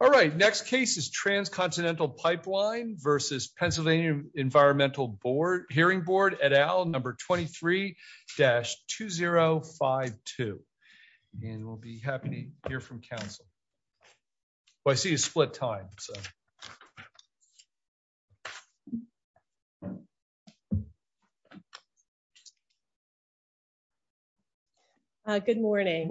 All right, next case is Transcontinental Pipeline v. PA Environmental Hearing Board, et al., number 23-2052. And we'll be happy to hear from counsel. Oh, I see a split time. Good morning.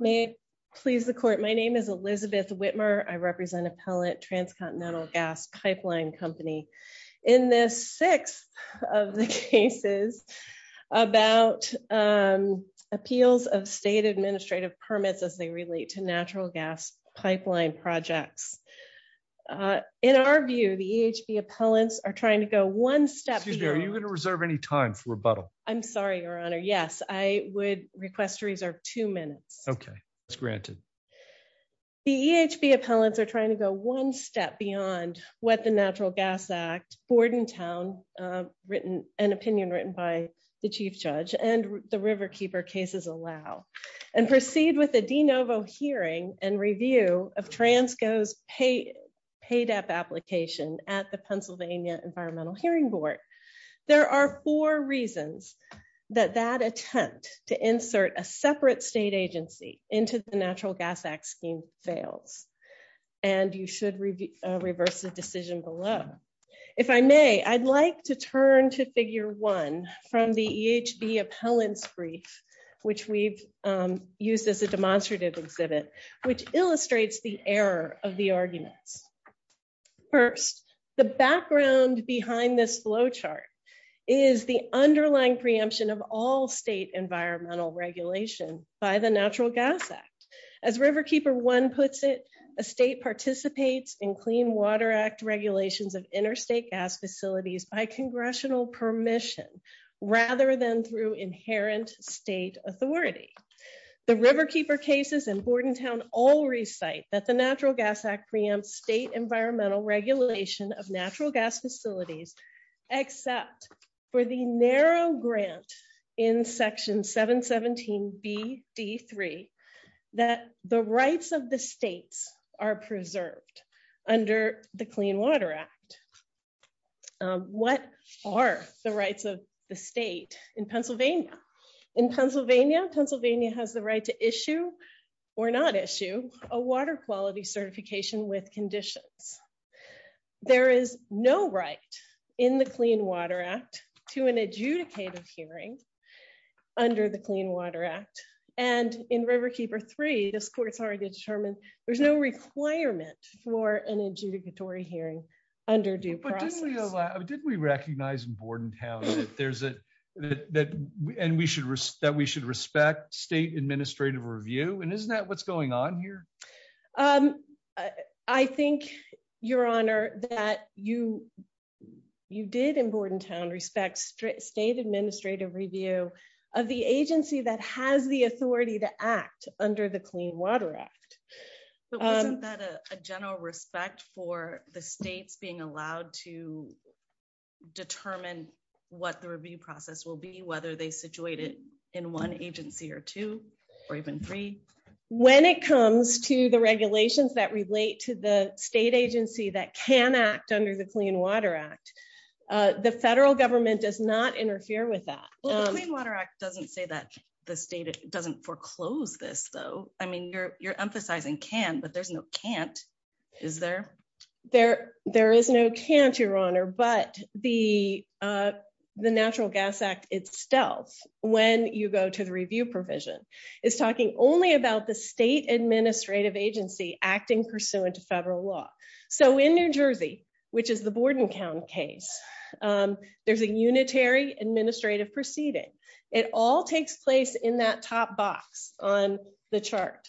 May it please the court. My name is Elizabeth Whitmer. I represent Appellant Transcontinental Gas Pipeline Company. In this sixth of the cases about appeals of state permits as they relate to natural gas pipeline projects. In our view, the EHB appellants are trying to go one step beyond. Excuse me, are you going to reserve any time for rebuttal? I'm sorry, Your Honor. Yes, I would request to reserve two minutes. Okay, that's granted. The EHB appellants are trying to go one step beyond what the Natural Gas Act, Bordentown, an opinion written by the with a de novo hearing and review of Transco's paid up application at the Pennsylvania Environmental Hearing Board. There are four reasons that that attempt to insert a separate state agency into the Natural Gas Act scheme fails. And you should reverse the decision below. If I may, I'd like to use this as a demonstrative exhibit, which illustrates the error of the arguments. First, the background behind this flowchart is the underlying preemption of all state environmental regulation by the Natural Gas Act. As Riverkeeper One puts it, a state participates in Clean Water Act regulations of interstate gas facilities by congressional permission, rather than through inherent state authority. The Riverkeeper cases in Bordentown all recite that the Natural Gas Act preempts state environmental regulation of natural gas facilities, except for the narrow grant in Section 717BD3 that the rights of the states are preserved under the Clean Water Act. What are the rights of the state in Pennsylvania? In Pennsylvania, Pennsylvania has the right to issue or not issue a water quality certification with conditions. There is no right in the Clean Water Act to an adjudicative hearing under the Clean Water Act. And in Riverkeeper Three, this court's already determined there's no requirement for an adjudicatory hearing under due process. But didn't we recognize in Bordentown that we should respect state administrative review? And isn't that what's going on here? I think, Your Honor, that you act under the Clean Water Act. But wasn't that a general respect for the states being allowed to determine what the review process will be, whether they situate it in one agency or two, or even three? When it comes to the regulations that relate to the state agency that can act under the Clean Water Act, the federal government does not interfere with that. Well, the Clean Water Act doesn't say that the state doesn't foreclose this, though. I mean, you're emphasizing can, but there's no can't. Is there? There is no can't, Your Honor. But the Natural Gas Act itself, when you go to the review provision, is talking only about the state administrative agency acting pursuant to federal law. So in New Jersey, which is the Bordentown case, there's a unitary administrative proceeding. It all takes place in that top box on the chart.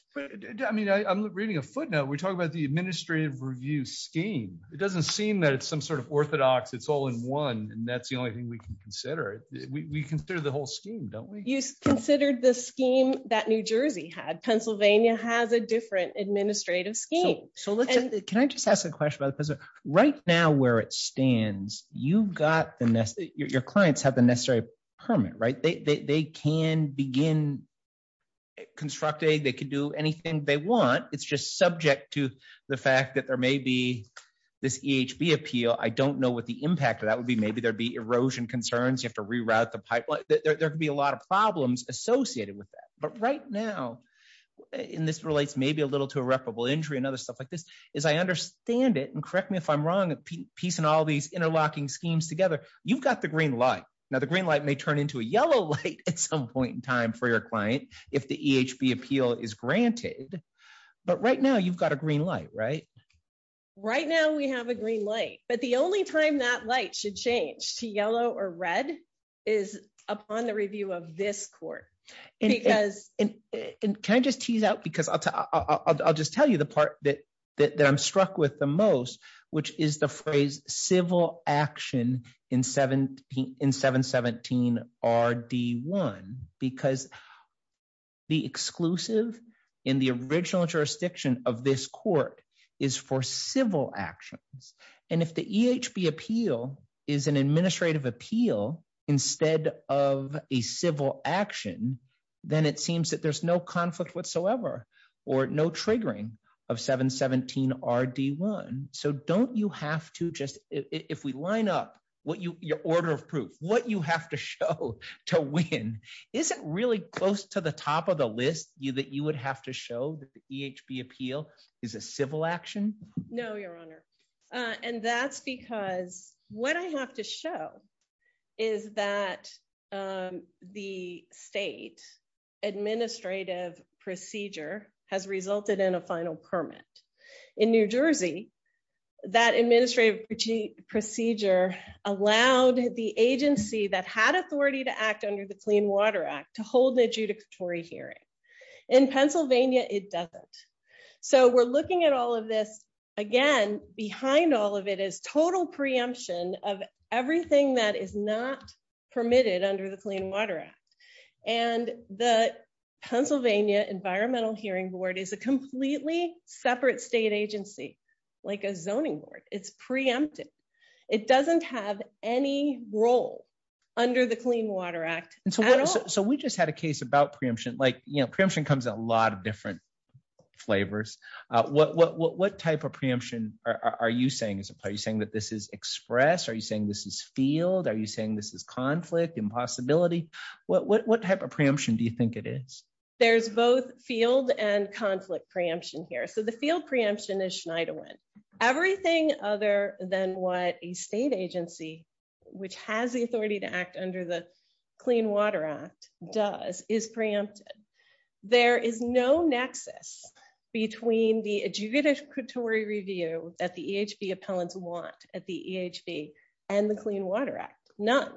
I mean, I'm reading a footnote. We're talking about the administrative review scheme. It doesn't seem that it's some sort of orthodox. It's all in one. And that's the only thing we can consider. We consider the whole scheme, don't we? You considered the scheme that New Jersey had. Pennsylvania has a different administrative scheme. So let's, can I just ask a question right now where it stands? You've got the, your clients have the necessary permit, right? They can begin constructing, they could do anything they want. It's just subject to the fact that there may be this EHB appeal. I don't know what the impact of that would be. Maybe there'd be erosion concerns. You have to reroute the pipeline. There could be a lot of problems associated with that. But right now, and this relates maybe a little to irreparable injury and other stuff like this, is I understand it, and correct me if I'm wrong, piecing all these interlocking schemes together, you've got the green light. Now the green light may turn into a yellow light at some point in time for your client, if the EHB appeal is granted. But right now you've got a green light, right? Right now we have a green light, but the only time that light should change to yellow or red is upon the review of this court, because... And can I just tease out, because I'll just tell you the part that I'm struck with the most, which is the phrase civil action in 717 RD1, because the exclusive in the original jurisdiction of this court is for civil actions. And if the EHB appeal is an administrative appeal instead of a civil action, then it seems that there's no conflict whatsoever or no triggering of 717 RD1. So don't you have to just... If we line up your order of proof, what you have to show to win, isn't really close to the top of the list that you would have to show that the EHB appeal is a civil action? No, Your Honor. And that's because what I have to show is that the state administrative procedure has resulted in a final permit. In New Jersey, that administrative procedure allowed the agency that had authority to act under the Clean Water Act to hold an adjudicatory hearing. In Pennsylvania, it doesn't. So we're looking at all of this, again, behind all of it is total preemption of everything that is not permitted under the Clean Water Act. And the Pennsylvania Environmental Hearing Board is a completely separate state agency, like a zoning board. It's preempted. It doesn't have any role under the Clean Water Act at all. And so we just had a case about preemption, preemption comes in a lot of different flavors. What type of preemption are you saying? Are you saying that this is express? Are you saying this is field? Are you saying this is conflict, impossibility? What type of preemption do you think it is? There's both field and conflict preemption here. So the field preemption is Schneiderwin. Everything other than what a state agency, which has the authority to act under the Clean Water Act does is preempted. There is no nexus between the adjudicatory review that the EHB appellants want at the EHB and the Clean Water Act, none.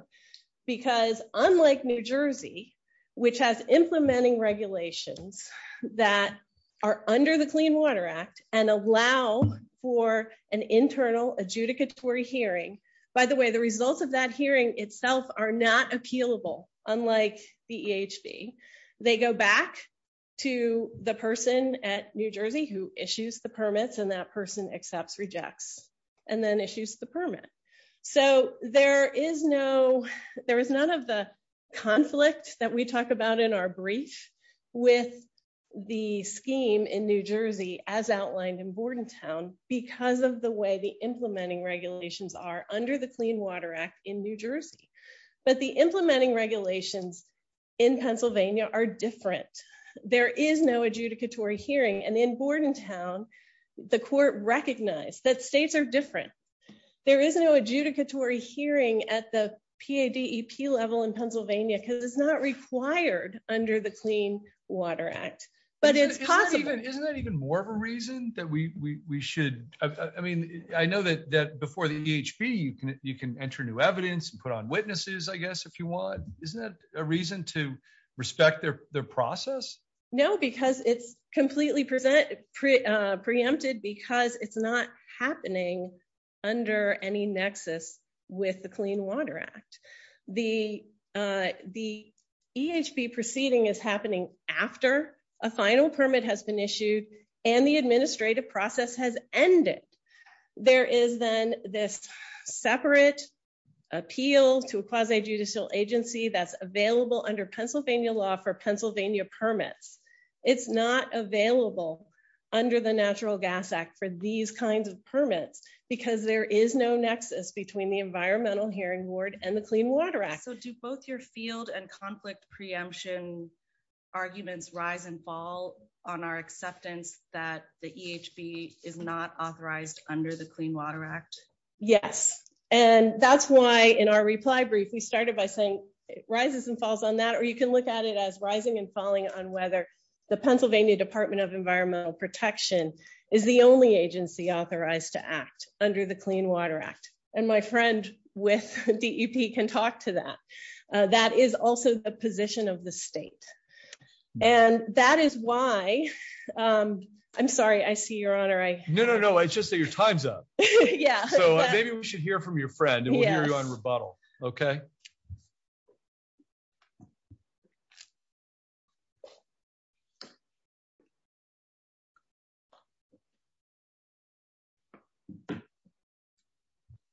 Because unlike New Jersey, which has implementing regulations that are under the Clean Water Act and allow for an internal adjudicatory hearing, by the way, the results of that hearing itself are not appealable, unlike the EHB. They go back to the person at New Jersey who issues the permits and that person accepts, rejects, and then issues the permit. So there is no, there is none of the conflict that we talk about in our brief with the scheme in New Jersey as outlined in Bordentown because of the way the implementing regulations are under the Clean Water Act in New Jersey. But the implementing regulations in Pennsylvania are different. There is no adjudicatory hearing. And in Bordentown, the court recognized that states are There is no adjudicatory hearing at the PADEP level in Pennsylvania because it's not required under the Clean Water Act, but it's possible. Isn't that even more of a reason that we should, I mean, I know that before the EHB, you can enter new evidence and put on witnesses, I guess, if you want. Isn't that a reason to respect their process? No, because it's completely preempted because it's not happening under any nexus with the Clean Water Act. The EHB proceeding is happening after a final permit has been issued and the administrative process has ended. There is then this separate appeal to a quasi-judicial agency that's available under for Pennsylvania permits. It's not available under the Natural Gas Act for these kinds of permits because there is no nexus between the Environmental Hearing Board and the Clean Water Act. So do both your field and conflict preemption arguments rise and fall on our acceptance that the EHB is not authorized under the Clean Water Act? Yes. And that's why in our reply brief, we started by saying it rises and falls on that, or you can look at it as rising and falling on whether the Pennsylvania Department of Environmental Protection is the only agency authorized to act under the Clean Water Act. And my friend with DEP can talk to that. That is also the position of the state. And that is why, I'm sorry, I see your honor, I... No, no, no, it's just that your time's up. Yeah. So maybe we should hear from your friend and we'll hear from you on rebuttal, okay?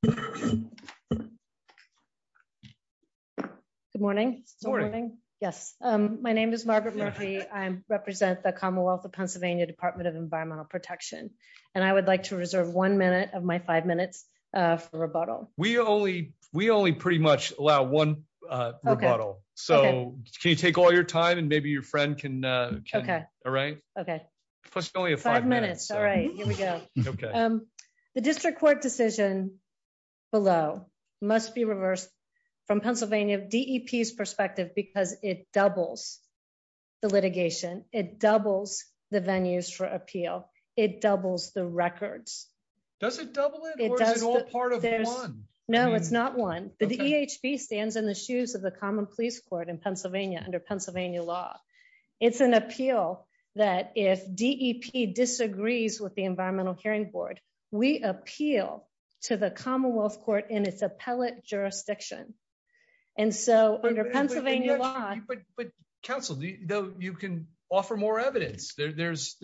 Good morning. Good morning. Yes. My name is Margaret Murphy. I represent the Commonwealth of Pennsylvania Department of Environmental Protection. And I would like to we only pretty much allow one rebuttal. So can you take all your time and maybe your friend can... Okay. All right. Okay. Plus you only have five minutes. All right, here we go. Okay. The district court decision below must be reversed from Pennsylvania DEP's perspective, because it doubles the litigation. It doubles the venues for appeal. It doubles the records. Does it double it or is it all part of one? No, it's not one. The EHB stands in the shoes of the Common Police Court in Pennsylvania under Pennsylvania law. It's an appeal that if DEP disagrees with the Environmental Hearing Board, we appeal to the Commonwealth Court in its appellate jurisdiction. And so under Pennsylvania law... But counsel, you can offer more evidence. There's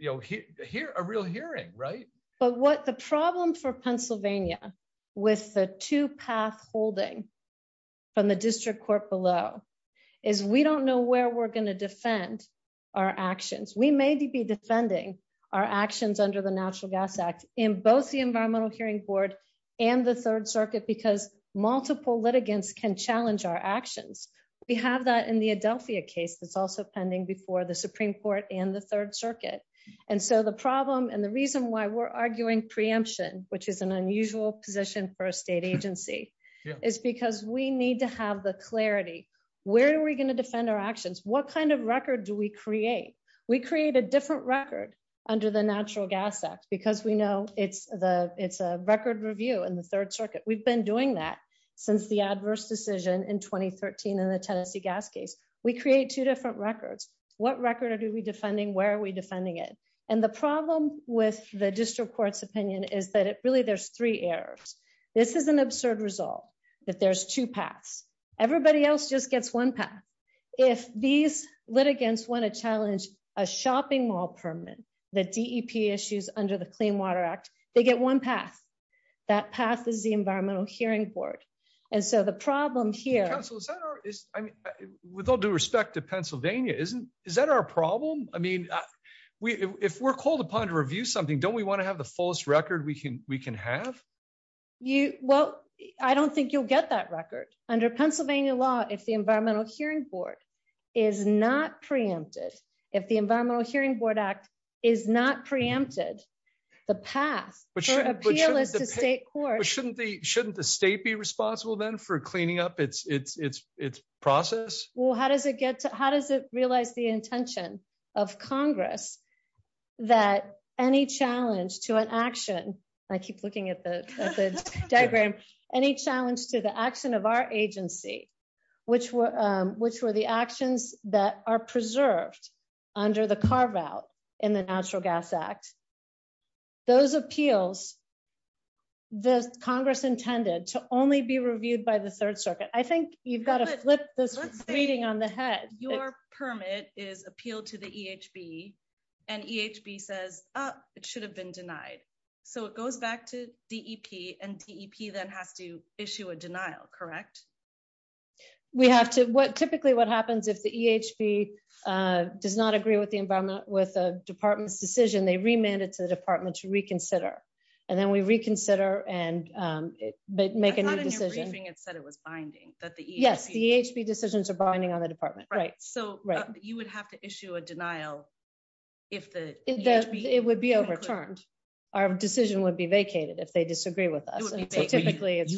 a real hearing, right? But what the problem for Pennsylvania with the two path holding from the district court below is we don't know where we're going to defend our actions. We may be defending our actions under the Natural Gas Act in both the Environmental Hearing Board and the Third Circuit because multiple litigants can challenge our actions. We have that in the Adelphia case that's also pending before the Supreme Court and the Third Circuit. And so the problem and the reason why we're arguing preemption, which is an unusual position for a state agency, is because we need to have the clarity. Where are we going to defend our actions? What kind of record do we create? We create a different record under the Natural Gas Act because we know it's a record review in the Third Circuit. We've been doing that since the adverse decision in 2013 in the Tennessee gas case. We create two different records. What record are we defending? Where are we defending it? And the problem with the district court's opinion is that really there's three errors. This is an absurd result that there's two paths. Everybody else just gets one path. If these litigants want to challenge a shopping mall permit, the DEP issues under the Clean Water Act, they get one path. That path is the Environmental Hearing Board. And so the problem here... With all due respect to Pennsylvania, is that our problem? I mean, if we're called upon to review something, don't we want to have the fullest record we can have? Well, I don't think you'll get that record. Under Pennsylvania law, if the Environmental Hearing Board is not preempted, if the Environmental Hearing Board Act is not preempted, the path for appeal is to state court. But shouldn't the state be responsible then for cleaning up its process? Well, how does it realize the intention of Congress that any challenge to an action... I keep looking at the diagram. Any challenge to the action of our agency, which were the actions that are preserved under the carve out in the Natural Gas Act, those appeals, the Congress intended to only be reviewed by the Third Circuit. I think you've got to flip this on the head. Your permit is appealed to the EHB and EHB says, oh, it should have been denied. So it goes back to DEP and DEP then has to issue a denial, correct? We have to... Typically what happens if the EHB does not agree with the department's decision, they remand it to the department to reconsider. And then we reconsider and make a new decision. It said it was binding that the EHB... Yes, the EHB decisions are binding on the department. Right. So you would have to issue a denial if the EHB... It would be overturned. Our decision would be vacated if they disagree with us. You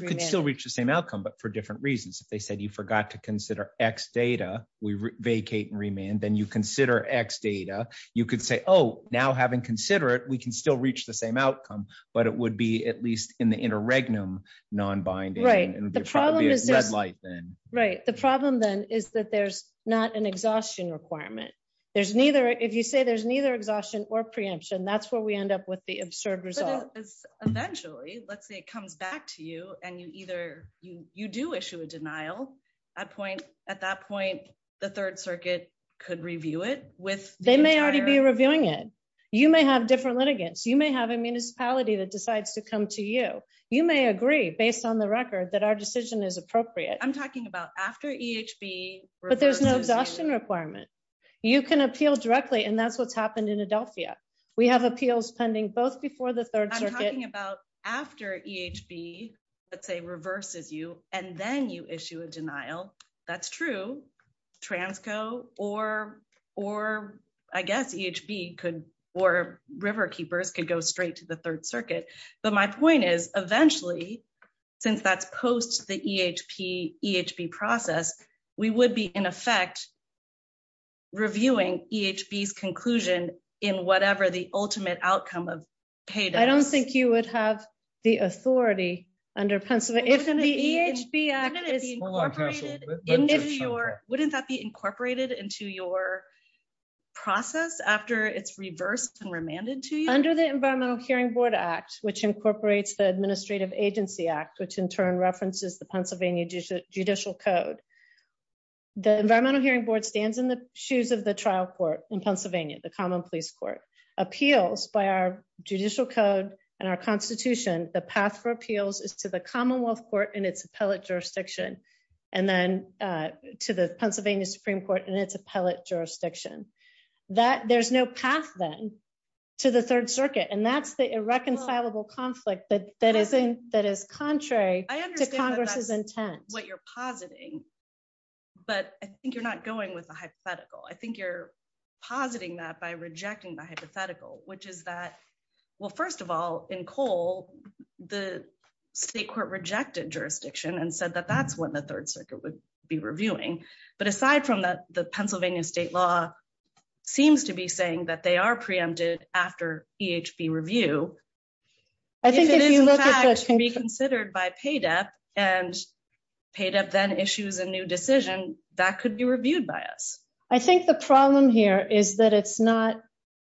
could still reach the same outcome, but for different reasons. If they said you forgot to consider X data, we vacate and remand, then you consider X data. You could say, oh, now having considered it, we can still reach the same outcome, but it would be at least in the interregnum non-binding and it would be a red light then. Right. The problem then is that there's not an exhaustion requirement. If you say there's neither exhaustion or preemption, that's where we end up with the absurd result. But eventually, let's say it comes back to you and you do issue a denial. At that point, the third circuit could review it with the entire... They may already be reviewing it. You may have different litigants. You may have a municipality that decides to come to you. You may agree based on the record that our decision is appropriate. I'm talking about after EHB reverses you. But there's no exhaustion requirement. You can appeal directly and that's what's happened in Adelphia. We have appeals pending both before the third circuit... I'm talking about after EHB, let's say, reverses you and then you issue a denial. But my point is, eventually, since that's post the EHB process, we would be, in effect, reviewing EHB's conclusion in whatever the ultimate outcome of payday is. I don't think you would have the authority under Pennsylvania. Wouldn't the EHB Act be incorporated into your process after it's reversed and remanded to you? Under the Environmental Hearing Board Act, which incorporates the Administrative Agency Act, which, in turn, references the Pennsylvania Judicial Code, the Environmental Hearing Board stands in the shoes of the trial court in Pennsylvania, the common police court. Appeals by our judicial code and our constitution, the path for appeals is to the Commonwealth Court in its appellate jurisdiction and then to the Pennsylvania Supreme Court in its appellate jurisdiction. There's no path, then, to the third circuit and that's the irreconcilable conflict that is contrary to Congress's intent. I understand what you're positing, but I think you're not going with the hypothetical. I think you're positing that by rejecting the hypothetical, which is that, well, first of all, in Cole, the state court rejected jurisdiction and said that that's when the third circuit would be reviewing. But aside from that, the Pennsylvania state law seems to be saying that they are preempted after EHB review. If it is in fact reconsidered by PADEP and PADEP then issues a new decision, that could be reviewed by us. I think the problem here is that it's not,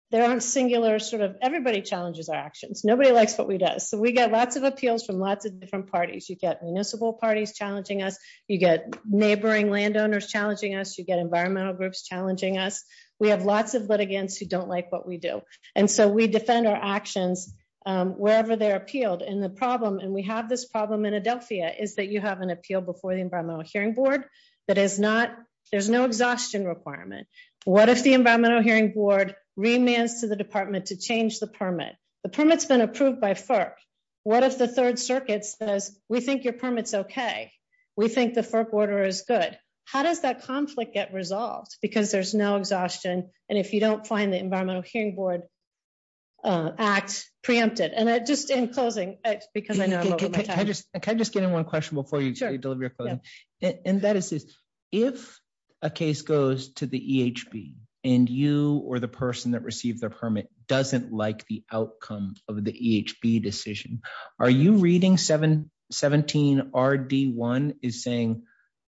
there aren't singular sort of, everybody challenges our actions. Nobody likes what we do. So we get lots of appeals from lots of different parties. You get municipal parties challenging us. You get neighboring landowners challenging us. You get environmental groups challenging us. We have lots of litigants who don't like what we do. And so we defend our actions wherever they're appealed. And the problem, and we have this problem in Adelphia, is that you have an appeal before the Environmental Hearing Board that is not, there's no exhaustion requirement. What if the Environmental Hearing Board remands to the department to change the permit? The permit's approved by FERC. What if the third circuit says, we think your permit's okay. We think the FERC order is good. How does that conflict get resolved? Because there's no exhaustion. And if you don't find the Environmental Hearing Board act preempted. And just in closing, because I know I'm over my time. Can I just get in one question before you deliver your closing? And that is this, if a case goes to the EHB and you or the person that received their permit doesn't like the EHB decision, are you reading 717RD1 is saying,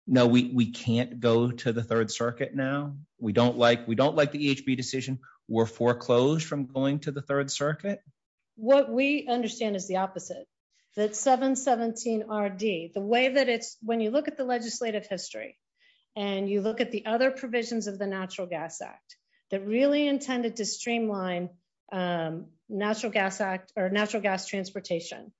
no, we can't go to the third circuit now. We don't like the EHB decision. We're foreclosed from going to the third circuit. What we understand is the opposite. That 717RD, the way that it's, when you look at the legislative history and you look at the other provisions of the Natural Gas Act that really intended to natural gas transportation.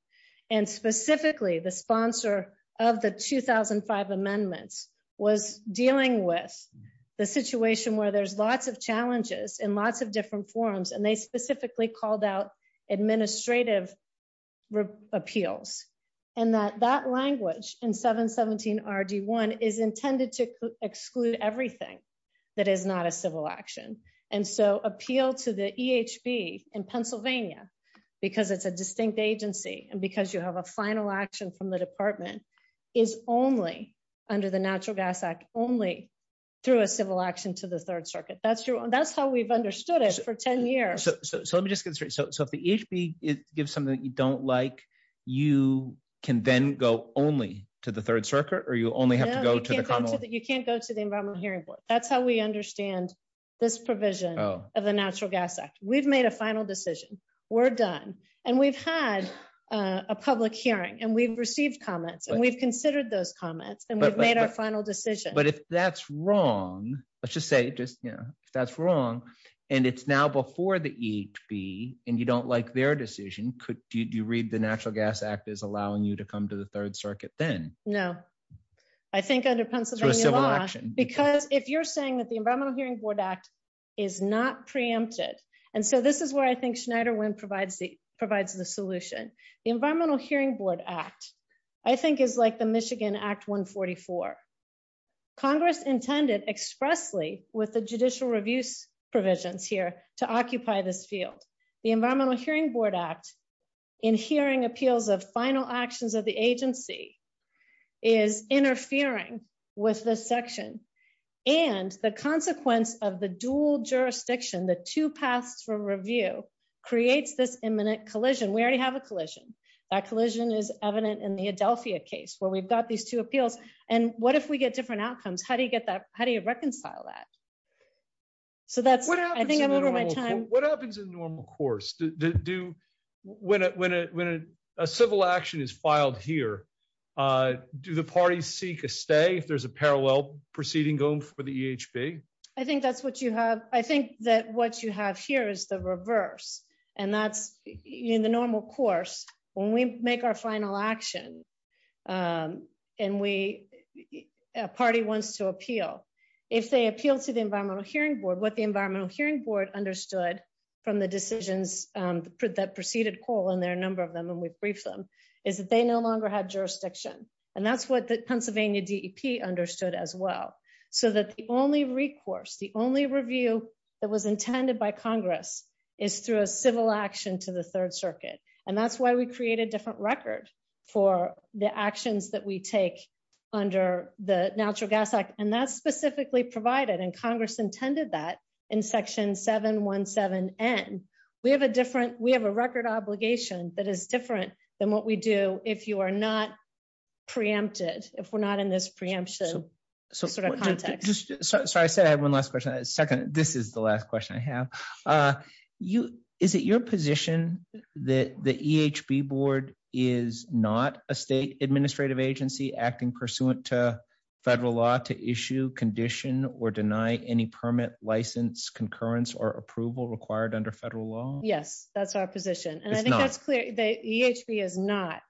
And specifically the sponsor of the 2005 amendments was dealing with the situation where there's lots of challenges in lots of different forums. And they specifically called out administrative appeals and that that language in 717RD1 is intended to exclude everything that is not a civil action. And so appeal to the EHB in Pennsylvania, because it's a distinct agency. And because you have a final action from the department is only under the Natural Gas Act, only through a civil action to the third circuit. That's your, that's how we've understood it for 10 years. So let me just get straight. So if the EHB gives something that you don't like, you can then go only to the third circuit or you only have to you can't go to the environmental hearing board. That's how we understand this provision of the Natural Gas Act. We've made a final decision. We're done. And we've had a public hearing and we've received comments and we've considered those comments and we've made our final decision. But if that's wrong, let's just say just, you know, if that's wrong and it's now before the EHB and you don't like their decision, could you read the Natural Gas Act as allowing you to come to the through a civil action? Because if you're saying that the Environmental Hearing Board Act is not preempted. And so this is where I think Schneider Wynn provides the solution. The Environmental Hearing Board Act, I think is like the Michigan Act 144. Congress intended expressly with the judicial reviews provisions here to occupy this field. The Environmental Hearing Board Act in hearing appeals of final actions of the agency is interfering with this section and the consequence of the dual jurisdiction, the two paths for review creates this imminent collision. We already have a collision. That collision is evident in the Adelphia case where we've got these two appeals. And what if we get different outcomes? How do you get that? How do you reconcile that? So that's, I think I'm over my time. What happens in the normal course? When a civil action is filed here, do the parties seek a stay if there's a parallel proceeding going for the EHB? I think that's what you have. I think that what you have here is the reverse. And that's in the normal course, when we make our final action and a party wants to appeal, if they appeal to the Environmental Hearing Board, what the Environmental Hearing Board understood from the decisions that preceded coal and their number of them, and we briefed them, is that they no longer had jurisdiction. And that's what the Pennsylvania DEP understood as well. So that the only recourse, the only review that was intended by Congress is through a civil action to the third circuit. And that's why we create a different record for the actions that we take under the Natural Gas Act. And that's specifically provided, and Congress intended that in section 717N. We have a record obligation that is different than what we do if you are not preempted, if we're not in this preemption context. Sorry, I said I had one last question. Second, this is the last question I have. Is it your position that the EHB Board is not a state administrative agency acting pursuant to federal law to issue, condition, or deny any permit, license, concurrence, or approval required under federal law? Yes, that's our position. And I think that's clear. The EHB is not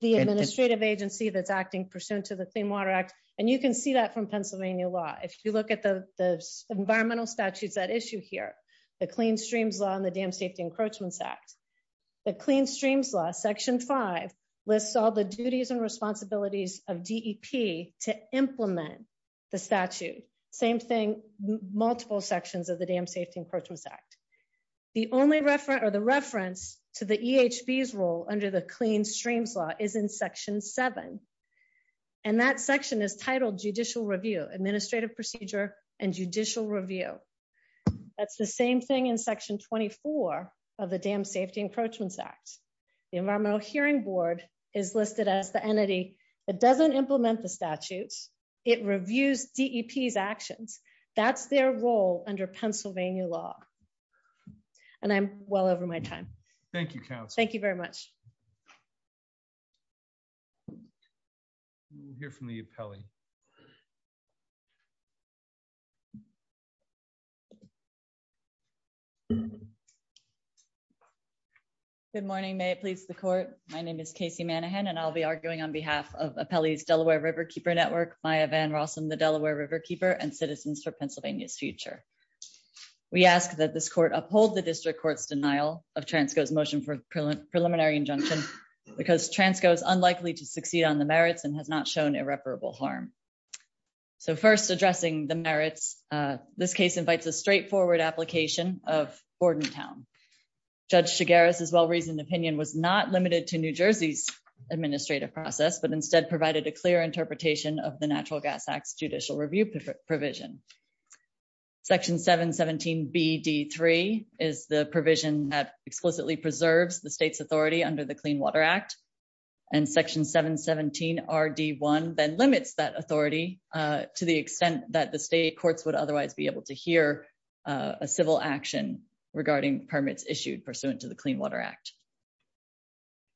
the administrative agency that's acting pursuant to the Clean Water Act. And you can see that from Pennsylvania law. If you look at the environmental statutes that issue here, the Clean Streams Law and the Dam Safety Encroachments Act, the Clean Streams Law, section 5, lists all the duties and responsibilities of DEP to implement the statute. Same thing, multiple sections of the Dam Safety Encroachments Act. The reference to the EHB's role under the Clean Streams Law is in section 7. And that section is titled Judicial Review, Administrative Procedure and Judicial Review. That's the same thing in section 24 of the Dam Safety Encroachments Act. The Environmental Hearing Board is listed as the entity that doesn't implement the statutes. It reviews DEP's actions. That's their role under Pennsylvania law. And I'm well over my time. Thank you, counsel. Thank you very much. We'll hear from the appellee. Good morning. May it please the court. My name is Casey Manahan, and I'll be arguing on behalf of Appellee's Delaware Riverkeeper Network, Maya Van Rossum, the Delaware Riverkeeper, and Citizens for Pennsylvania's Future. We ask that this court uphold the district court's denial of Transco's motion for preliminary injunction because Transco is unlikely to succeed on the merits and has not shown irreparable harm. So first, addressing the merits, this case invites a straightforward application of Bordentown. Judge Chigueras' well-reasoned opinion was not limited to New Jersey's administrative process, but instead provided a clear interpretation of Natural Gas Act's judicial review provision. Section 717BD3 is the provision that explicitly preserves the state's authority under the Clean Water Act. And section 717RD1 then limits that authority to the extent that the state courts would otherwise be able to hear a civil action regarding permits issued pursuant to the Clean Water Act.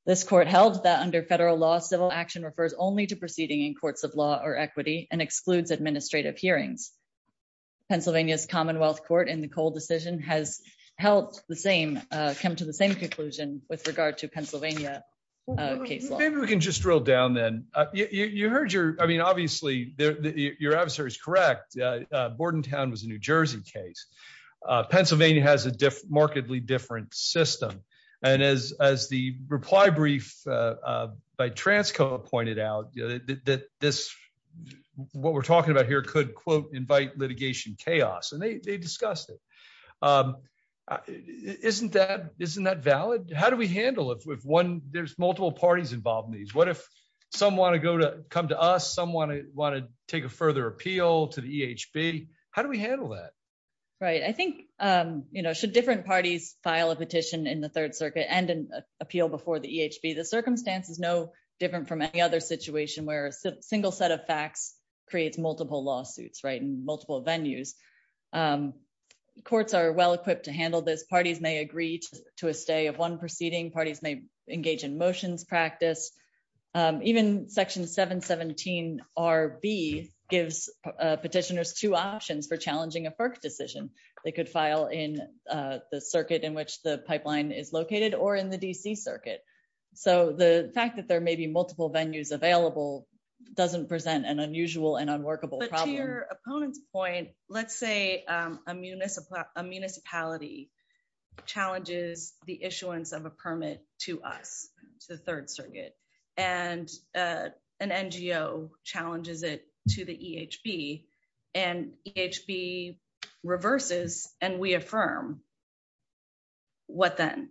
This court held that under federal law, civil action refers only to proceeding in courts of law or equity and excludes administrative hearings. Pennsylvania's Commonwealth Court in the Cole decision has held the same, come to the same conclusion with regard to Pennsylvania case law. Maybe we can just drill down then. You heard your, I mean, obviously your adversary is correct. Bordentown was a New Jersey case. Pennsylvania has a markedly different system. And as the reply brief by Transco pointed out, what we're talking about here could, quote, invite litigation chaos. And they discussed it. Isn't that valid? How do we handle it if there's multiple parties involved in these? What if some want to come to us, some want to take a further appeal to the EHB? How do we handle that? Right. I think, you know, should different parties file a petition in the Third Circuit and an appeal before the EHB? The circumstance is no different from any other situation where a single set of facts creates multiple lawsuits, right, in multiple venues. Courts are well-equipped to handle this. Parties may agree to a stay of one proceeding. Parties may engage in motions practice. Even Section 717RB gives petitioners two options for challenging a FERC decision. They could file in the circuit in which the pipeline is located or in the DC circuit. So the fact that there may be multiple venues available doesn't present an unusual and unworkable problem. But to your opponent's point, let's say a municipality challenges the issuance of a permit to us, to the Third Circuit, and an NGO challenges it to the EHB, and EHB reverses, and we affirm. What then?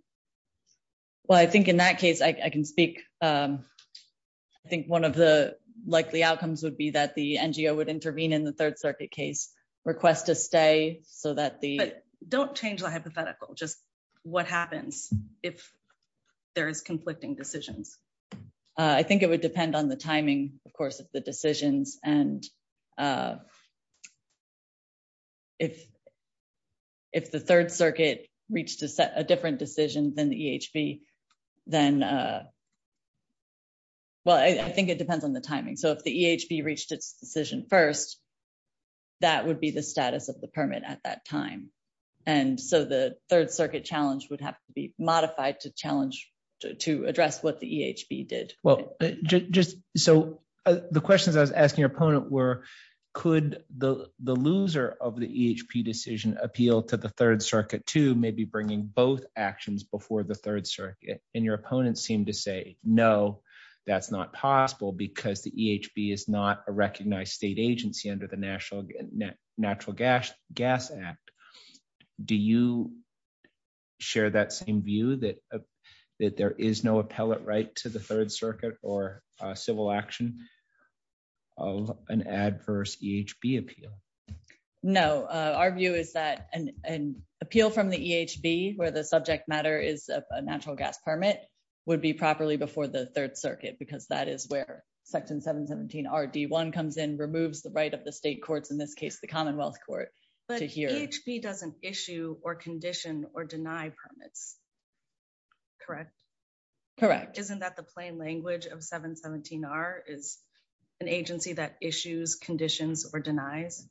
Well, I think in that case, I can speak. I think one of the likely outcomes would be that the NGO would intervene in the Third Circuit case, request a stay, so that the... But don't change the hypothetical. Just what happens if there is conflicting decisions? I think it would depend on the timing, of course, of the decisions. And if the Third Circuit reached a different decision than the EHB, then... Well, I think it depends on the timing. So if the EHB reached its decision first, that would be the status of the permit at that time. And so the Third Circuit challenge would have to be modified to challenge, to address what the EHB did. Well, just... So the questions I was asking your opponent were, could the loser of the EHB decision appeal to the Third Circuit too, maybe bringing both actions before the Third Circuit? And your opponent seemed to say, no, that's not possible because the EHB is not a recognized state agency under the Natural Gas Act. Do you share that same view, that there is no appellate right to the Third Circuit? I think the EHB, where the subject matter is a natural gas permit, would be properly before the Third Circuit, because that is where Section 717RD1 comes in, removes the right of the state courts, in this case, the Commonwealth Court, to hear... But EHB doesn't issue or condition or deny permits, correct? Correct. Isn't that the plain language of 717R, is an agency that issues, conditions, or denies?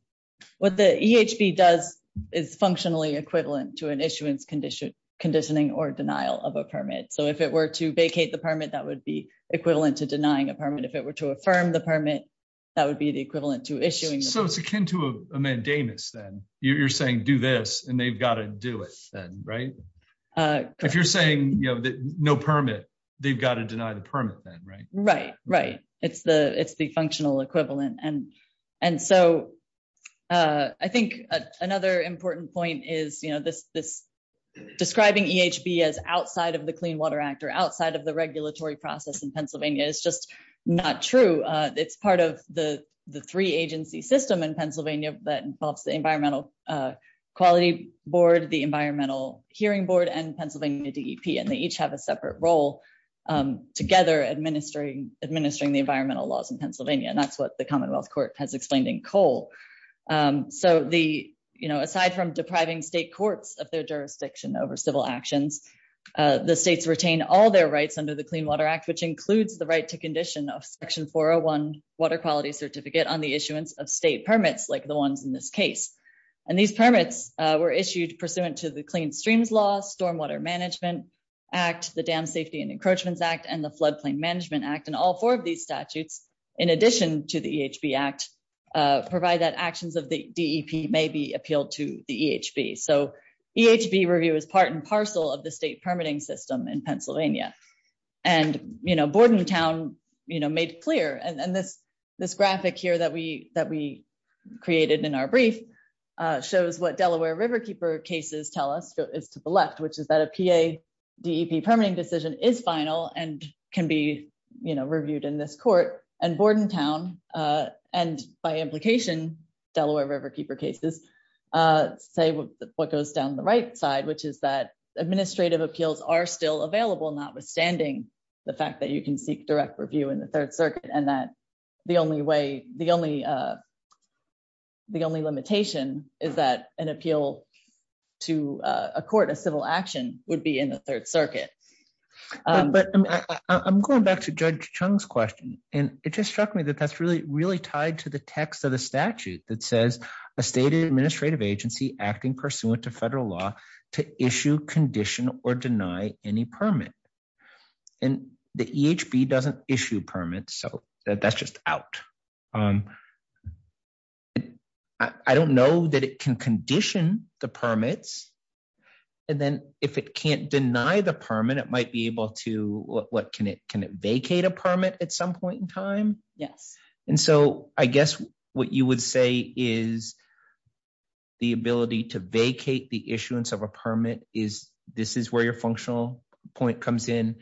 What the EHB does is functionally equivalent to an issuance conditioning or denial of a permit. So if it were to vacate the permit, that would be equivalent to denying a permit. If it were to affirm the permit, that would be the equivalent to issuing... So it's akin to a mandamus then. You're saying, do this, and they've got to do it then, right? If you're saying, no permit, they've got to deny the permit then, right? Right, right. It's the functional equivalent. And so I think another important point is describing EHB as outside of the Clean Water Act or outside of the regulatory process in Pennsylvania is just not true. It's part of the three-agency system in Pennsylvania that involves the Environmental Quality Board, the Environmental Hearing Board, and Pennsylvania DEP. And they each have a separate role together administering the environmental laws in Pennsylvania. And that's what the Commonwealth Court has explained in Cole. So aside from depriving state courts of their jurisdiction over civil actions, the states retain all their rights under the Clean Water Act, which includes the right to condition of section 401 water quality certificate on the issuance of state permits like the ones in this case. And these permits were act, the Dam Safety and Encroachments Act, and the Floodplain Management Act. And all four of these statutes, in addition to the EHB Act, provide that actions of the DEP may be appealed to the EHB. So EHB review is part and parcel of the state permitting system in Pennsylvania. And Bordentown made clear, and this graphic here that we created in our brief shows what Delaware Riverkeeper cases tell us is to the left, which is that a PA DEP permitting decision is final and can be reviewed in this court. And Bordentown, and by implication Delaware Riverkeeper cases, say what goes down the right side, which is that administrative appeals are still available, notwithstanding the fact that you can seek direct review in the Third Circuit, and that the only way, the only, the only limitation is that an appeal to a court of civil action would be in the Third Circuit. But I'm going back to Judge Chung's question. And it just struck me that that's really, really tied to the text of the statute that says a state administrative agency acting pursuant to federal law to issue, condition, or deny any permit. And the EHB doesn't issue permits, so that's just out. I don't know that it can condition the permits. And then if it can't deny the permit, it might be able to, what can it, can it vacate a permit at some point in time? Yes. And so I guess what you would say is the ability to vacate the issuance of a permit is, this is where your functional point comes in.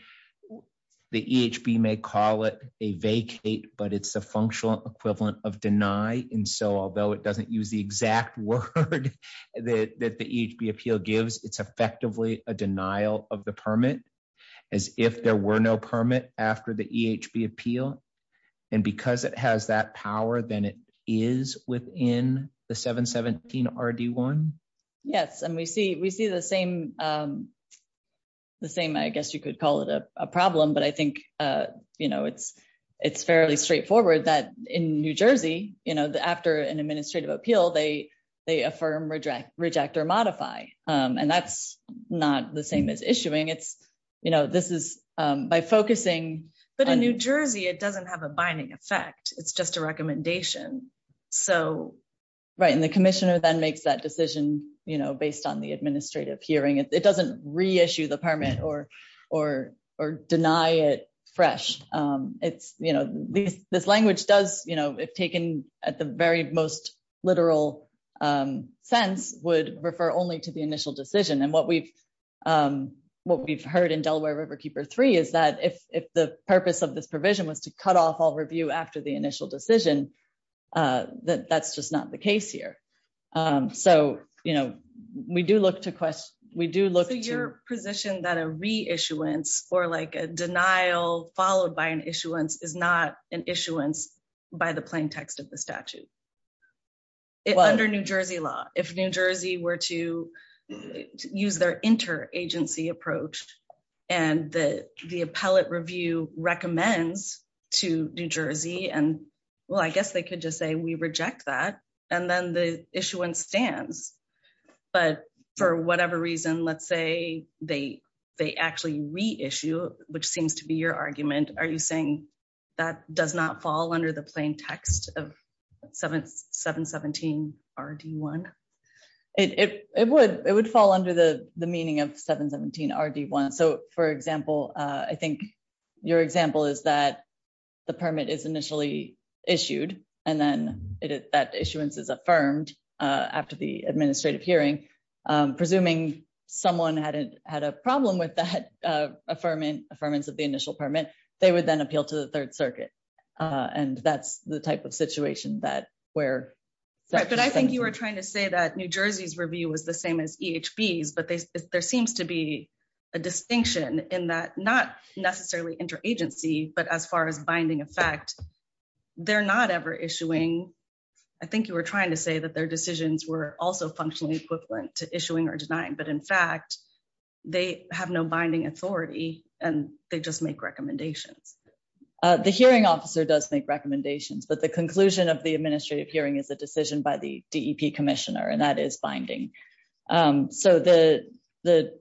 The EHB may call it a vacate, but it's a functional equivalent of deny. And so although it doesn't use the exact word that the EHB appeal gives, it's effectively a denial of the permit, as if there were no permit after the EHB appeal. And because it has that power, then it is within the 717 RD1? Yes. And we see the same, I guess you could call it a problem, but I think it's fairly straightforward that in New Jersey, after an administrative appeal, they affirm, reject, reject, or modify. And that's not the same as issuing. This is by focusing on- It doesn't have a binding effect. It's just a recommendation. So, right. And the commissioner then makes that decision based on the administrative hearing. It doesn't reissue the permit or deny it fresh. This language does, if taken at the very most literal sense, would refer only to the initial decision. And what we've heard in Delaware River provision was to cut off all review after the initial decision, that that's just not the case here. So, we do look to- So, you're positioned that a reissuance or a denial followed by an issuance is not an issuance by the plain text of the statute. Under New Jersey law, if New Jersey were to use their inter-agency approach and the appellate review recommends to New Jersey and, well, I guess they could just say, we reject that. And then the issuance stands. But for whatever reason, let's say they actually reissue, which seems to be your argument. Are you saying that does not fall under the plain text of 717 RD1? It would fall under the meaning of 717 RD1. So, for example, I think your example is that the permit is initially issued and then that issuance is affirmed after the administrative hearing. Presuming someone had a problem with that affirmance of the initial permit, they would then appeal to the Third Circuit. And that's the type of situation that where- But I think you were trying to say that New Jersey's review was the same as EHBs, but there seems to be a distinction in that not necessarily inter-agency, but as far as binding effect, they're not ever issuing. I think you were trying to say that their decisions were also functionally equivalent to issuing or denying. But in fact, they have no binding authority and they just make recommendations. The hearing officer does make recommendations, but the conclusion of the administrative hearing is a decision by the DEP commissioner, and that is binding. So, the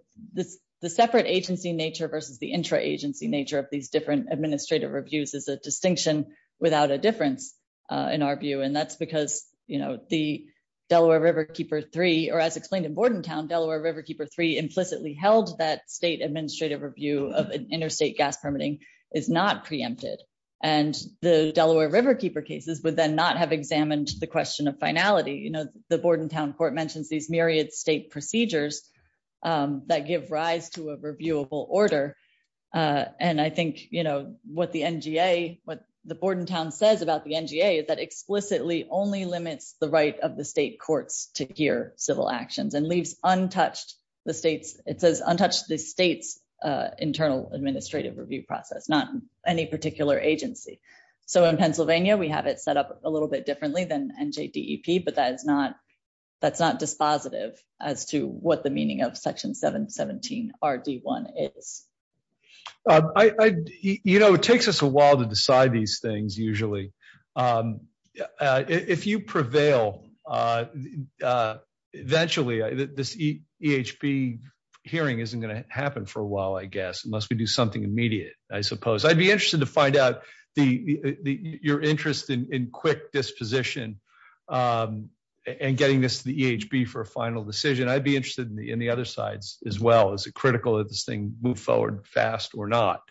separate agency nature versus the intra-agency nature of these different administrative reviews is a distinction without a difference in our view. And that's because the Delaware Riverkeeper III, or as held, that state administrative review of an interstate gas permitting is not preempted. And the Delaware Riverkeeper cases would then not have examined the question of finality. The Bordentown Court mentions these myriad state procedures that give rise to a reviewable order. And I think what the NGA, what the Bordentown says about the NGA is that explicitly only limits the of the state courts to hear civil actions and leaves untouched the state's, it says untouched the state's internal administrative review process, not any particular agency. So, in Pennsylvania, we have it set up a little bit differently than NJDEP, but that's not dispositive as to what the meaning of Section 717RD1 is. You know, it takes us a while to decide these things usually. If you prevail, eventually, this EHB hearing isn't going to happen for a while, I guess, unless we do something immediate, I suppose. I'd be interested to find out the, your interest in quick disposition and getting this to the EHB for a final decision. I'd be interested in the other sides as well. Is it critical that this thing move forward fast or not?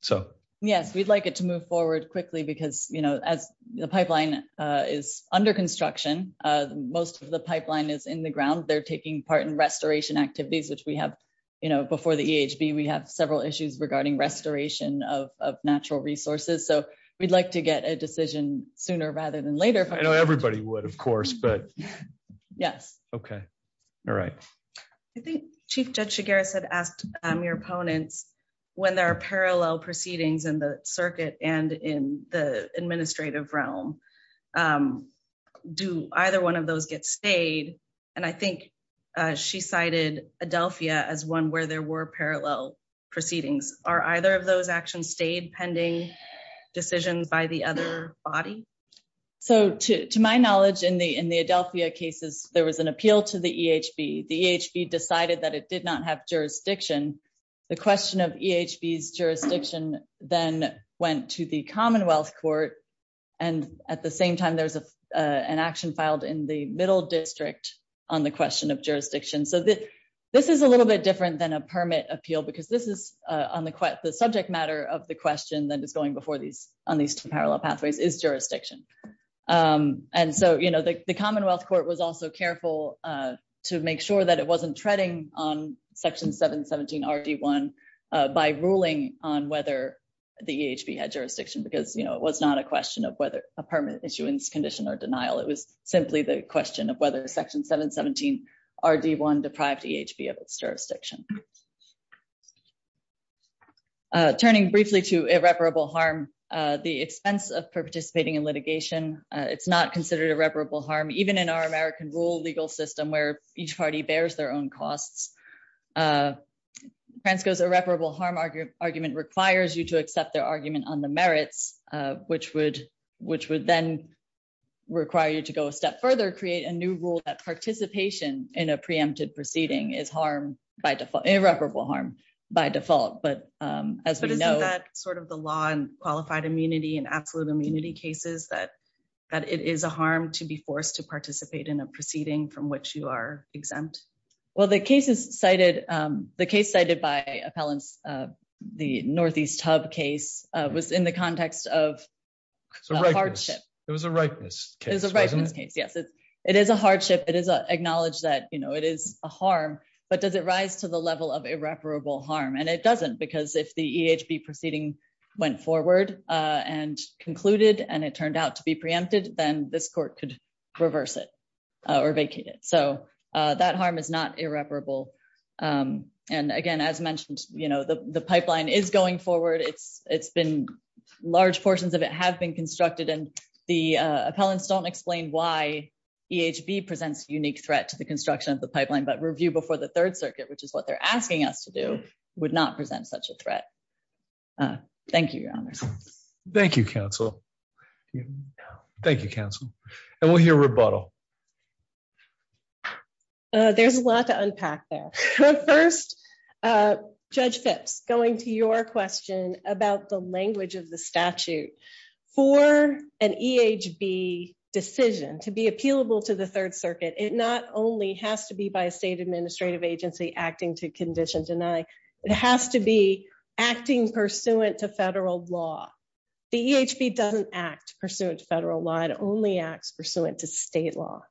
So. Yes, we'd like it to move forward quickly because, you know, as the pipeline is under construction, most of the pipeline is in the ground. They're taking part in restoration activities, which we have, you know, before the EHB, we have several issues regarding restoration of natural resources. So, we'd like to get a decision sooner rather than later. I know everybody would, of course, but. Yes. Okay. All right. I think Chief Judge Chigares had asked your opponents when there are parallel proceedings in the circuit and in the administrative realm, do either one of those get stayed? And I think she cited Adelphia as one where there were parallel proceedings. Are either of those actions stayed pending decisions by the other body? So, to my knowledge, in the Adelphia cases, there was an appeal to the EHB. The EHB decided that it did not have jurisdiction. The question of EHB's jurisdiction then went to the Commonwealth Court. And at the same time, there's an action filed in the middle district on the question of jurisdiction. So, this is a little bit different than a permit appeal because this is on the subject matter of the question that is going before these on these two parallel pathways is jurisdiction. And so, you know, the Commonwealth Court was also careful to make sure that it wasn't treading on Section 717RD1 by ruling on whether the EHB had jurisdiction because, you know, it was not a question of whether a permit issuance condition or denial. It was simply the question of whether Section 717RD1 deprived EHB of its jurisdiction. Turning briefly to irreparable harm, the expense of participating in litigation, it's not considered irreparable harm, even in our American rule legal system where each party bears their own costs. Fransco's irreparable harm argument requires you to accept their argument on the merits, which would then require you to go a step further, create a new rule that participation in a preempted proceeding is irreparable harm by default. But as we know... But isn't that sort of the law and qualified immunity and absolute immunity cases that it is a harm to be forced to participate in a proceeding from which you are exempt? Well, the case cited by appellants, the Northeast Hub case, was in the context of hardship. It was a rightness case, wasn't it? It was a rightness case, yes. It is a hardship. It is acknowledged that, you know, it is a harm, but does it rise to the level of irreparable harm? And it doesn't, because if the EHB proceeding went forward and concluded and it turned out to be preempted, then this court could reverse it or vacate it. So that harm is not irreparable. And again, as mentioned, you know, the pipeline is going forward. It's been... Large portions of it have been constructed and the appellants don't explain why EHB presents unique threat to the construction of the pipeline, but review before the Third Circuit, which is what they're asking us to do, would not present such a threat. Thank you, Your Honor. Thank you, counsel. Thank you, counsel. And we'll hear rebuttal. There's a lot to unpack there. First, Judge Phipps, going to your question about the language of the statute. For an EHB decision to be appealable to the Third Circuit, it not only has to be by a state administrative agency acting to condition deny, it has to be acting pursuant to federal law. The EHB doesn't act pursuant to federal law, it only acts pursuant to state law.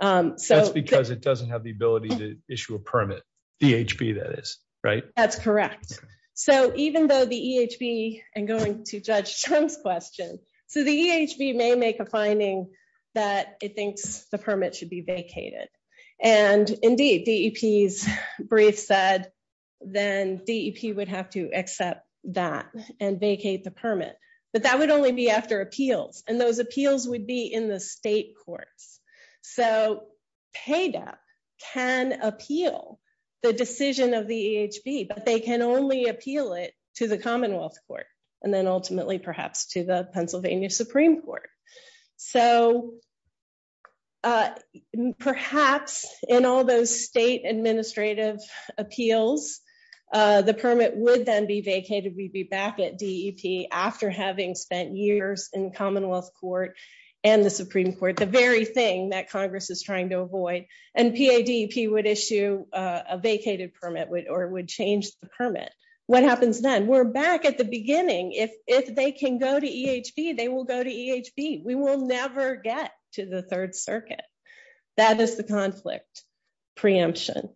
That's because it doesn't have the ability to issue a permit, the EHB that is, right? That's correct. So even though the EHB, and going to Judge Trump's question, so the EHB may make a finding that it thinks the permit should be vacated. And indeed, DEP's brief said, then DEP would have to accept that and vacate the permit. But that would only be after appeals, and those appeals would be in the state courts. So PADAP can appeal the decision of the EHB, but they can only appeal it to the Commonwealth Court, and then ultimately, perhaps to the Pennsylvania Supreme Court. So perhaps in all those state administrative appeals, the permit would then be vacated, we'd be back at DEP after having spent years in Commonwealth Court, and the Supreme Court, the very thing that Congress is trying to avoid. And PADAP would issue a vacated permit, or would change the permit. What happens then? We're back at the beginning. If they can go to EHB, we will never get to the Third Circuit. That is the conflict preemption.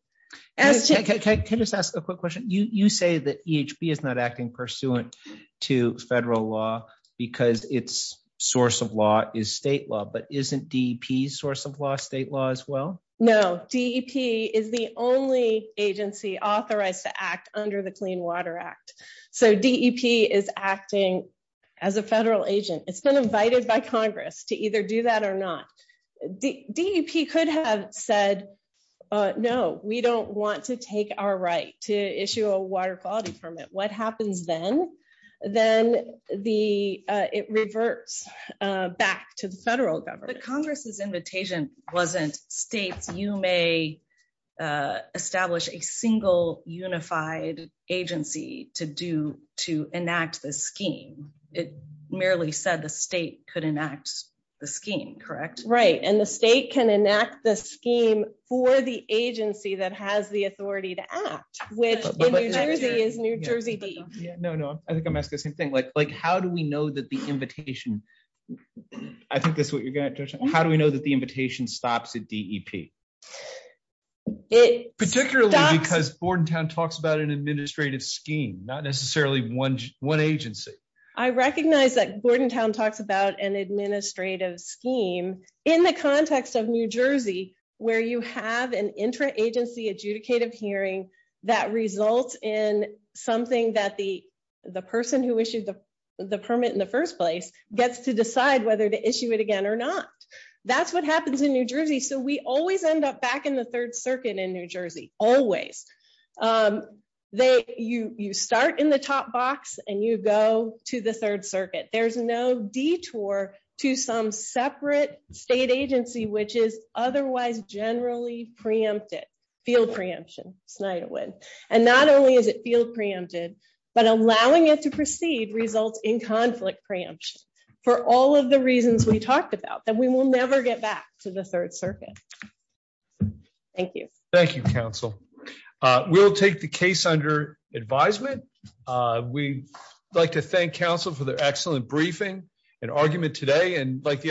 Can I just ask a quick question? You say that EHB is not acting pursuant to federal law, because its source of law is state law, but isn't DEP's source of law state law as well? No, DEP is the only agency authorized to act under the Clean Water Act. So DEP is acting as a federal agent. It's been invited by Congress to either do that or not. DEP could have said, no, we don't want to take our right to issue a water quality permit. What happens then? Then it reverts back to the federal government. But Congress's invitation wasn't states, you may establish a single unified agency to enact the scheme. It merely said the state could enact the scheme, correct? Right. And the state can enact the scheme for the agency that has the authority to act, which in New Jersey is New Jersey DEP. No, no, I think I'm asking the same thing. How do we know that the invitation stops at DEP? Particularly because Bordentown talks about an administrative scheme, not necessarily one agency. I recognize that Bordentown talks about an administrative scheme in the context of New Jersey, where you have an intra-agency adjudicative hearing that results in something that the person who issued the permit in the first place gets to decide whether to issue it again or not. That's what happens in New Jersey. So we always end up back in the third circuit in New Jersey, always. You start in the top box and you go to the third circuit. There's no detour to some separate state agency, which is otherwise generally preempted, field preemption, Snyderwood. And not only is it field preempted, but allowing it to proceed results in conflict preemption. For all of the reasons we talked about, that we will never get back to the third circuit. Thank you. Thank you, counsel. We'll take the case under advisement. We'd like to thank counsel for their excellent briefing and argument today. And like the other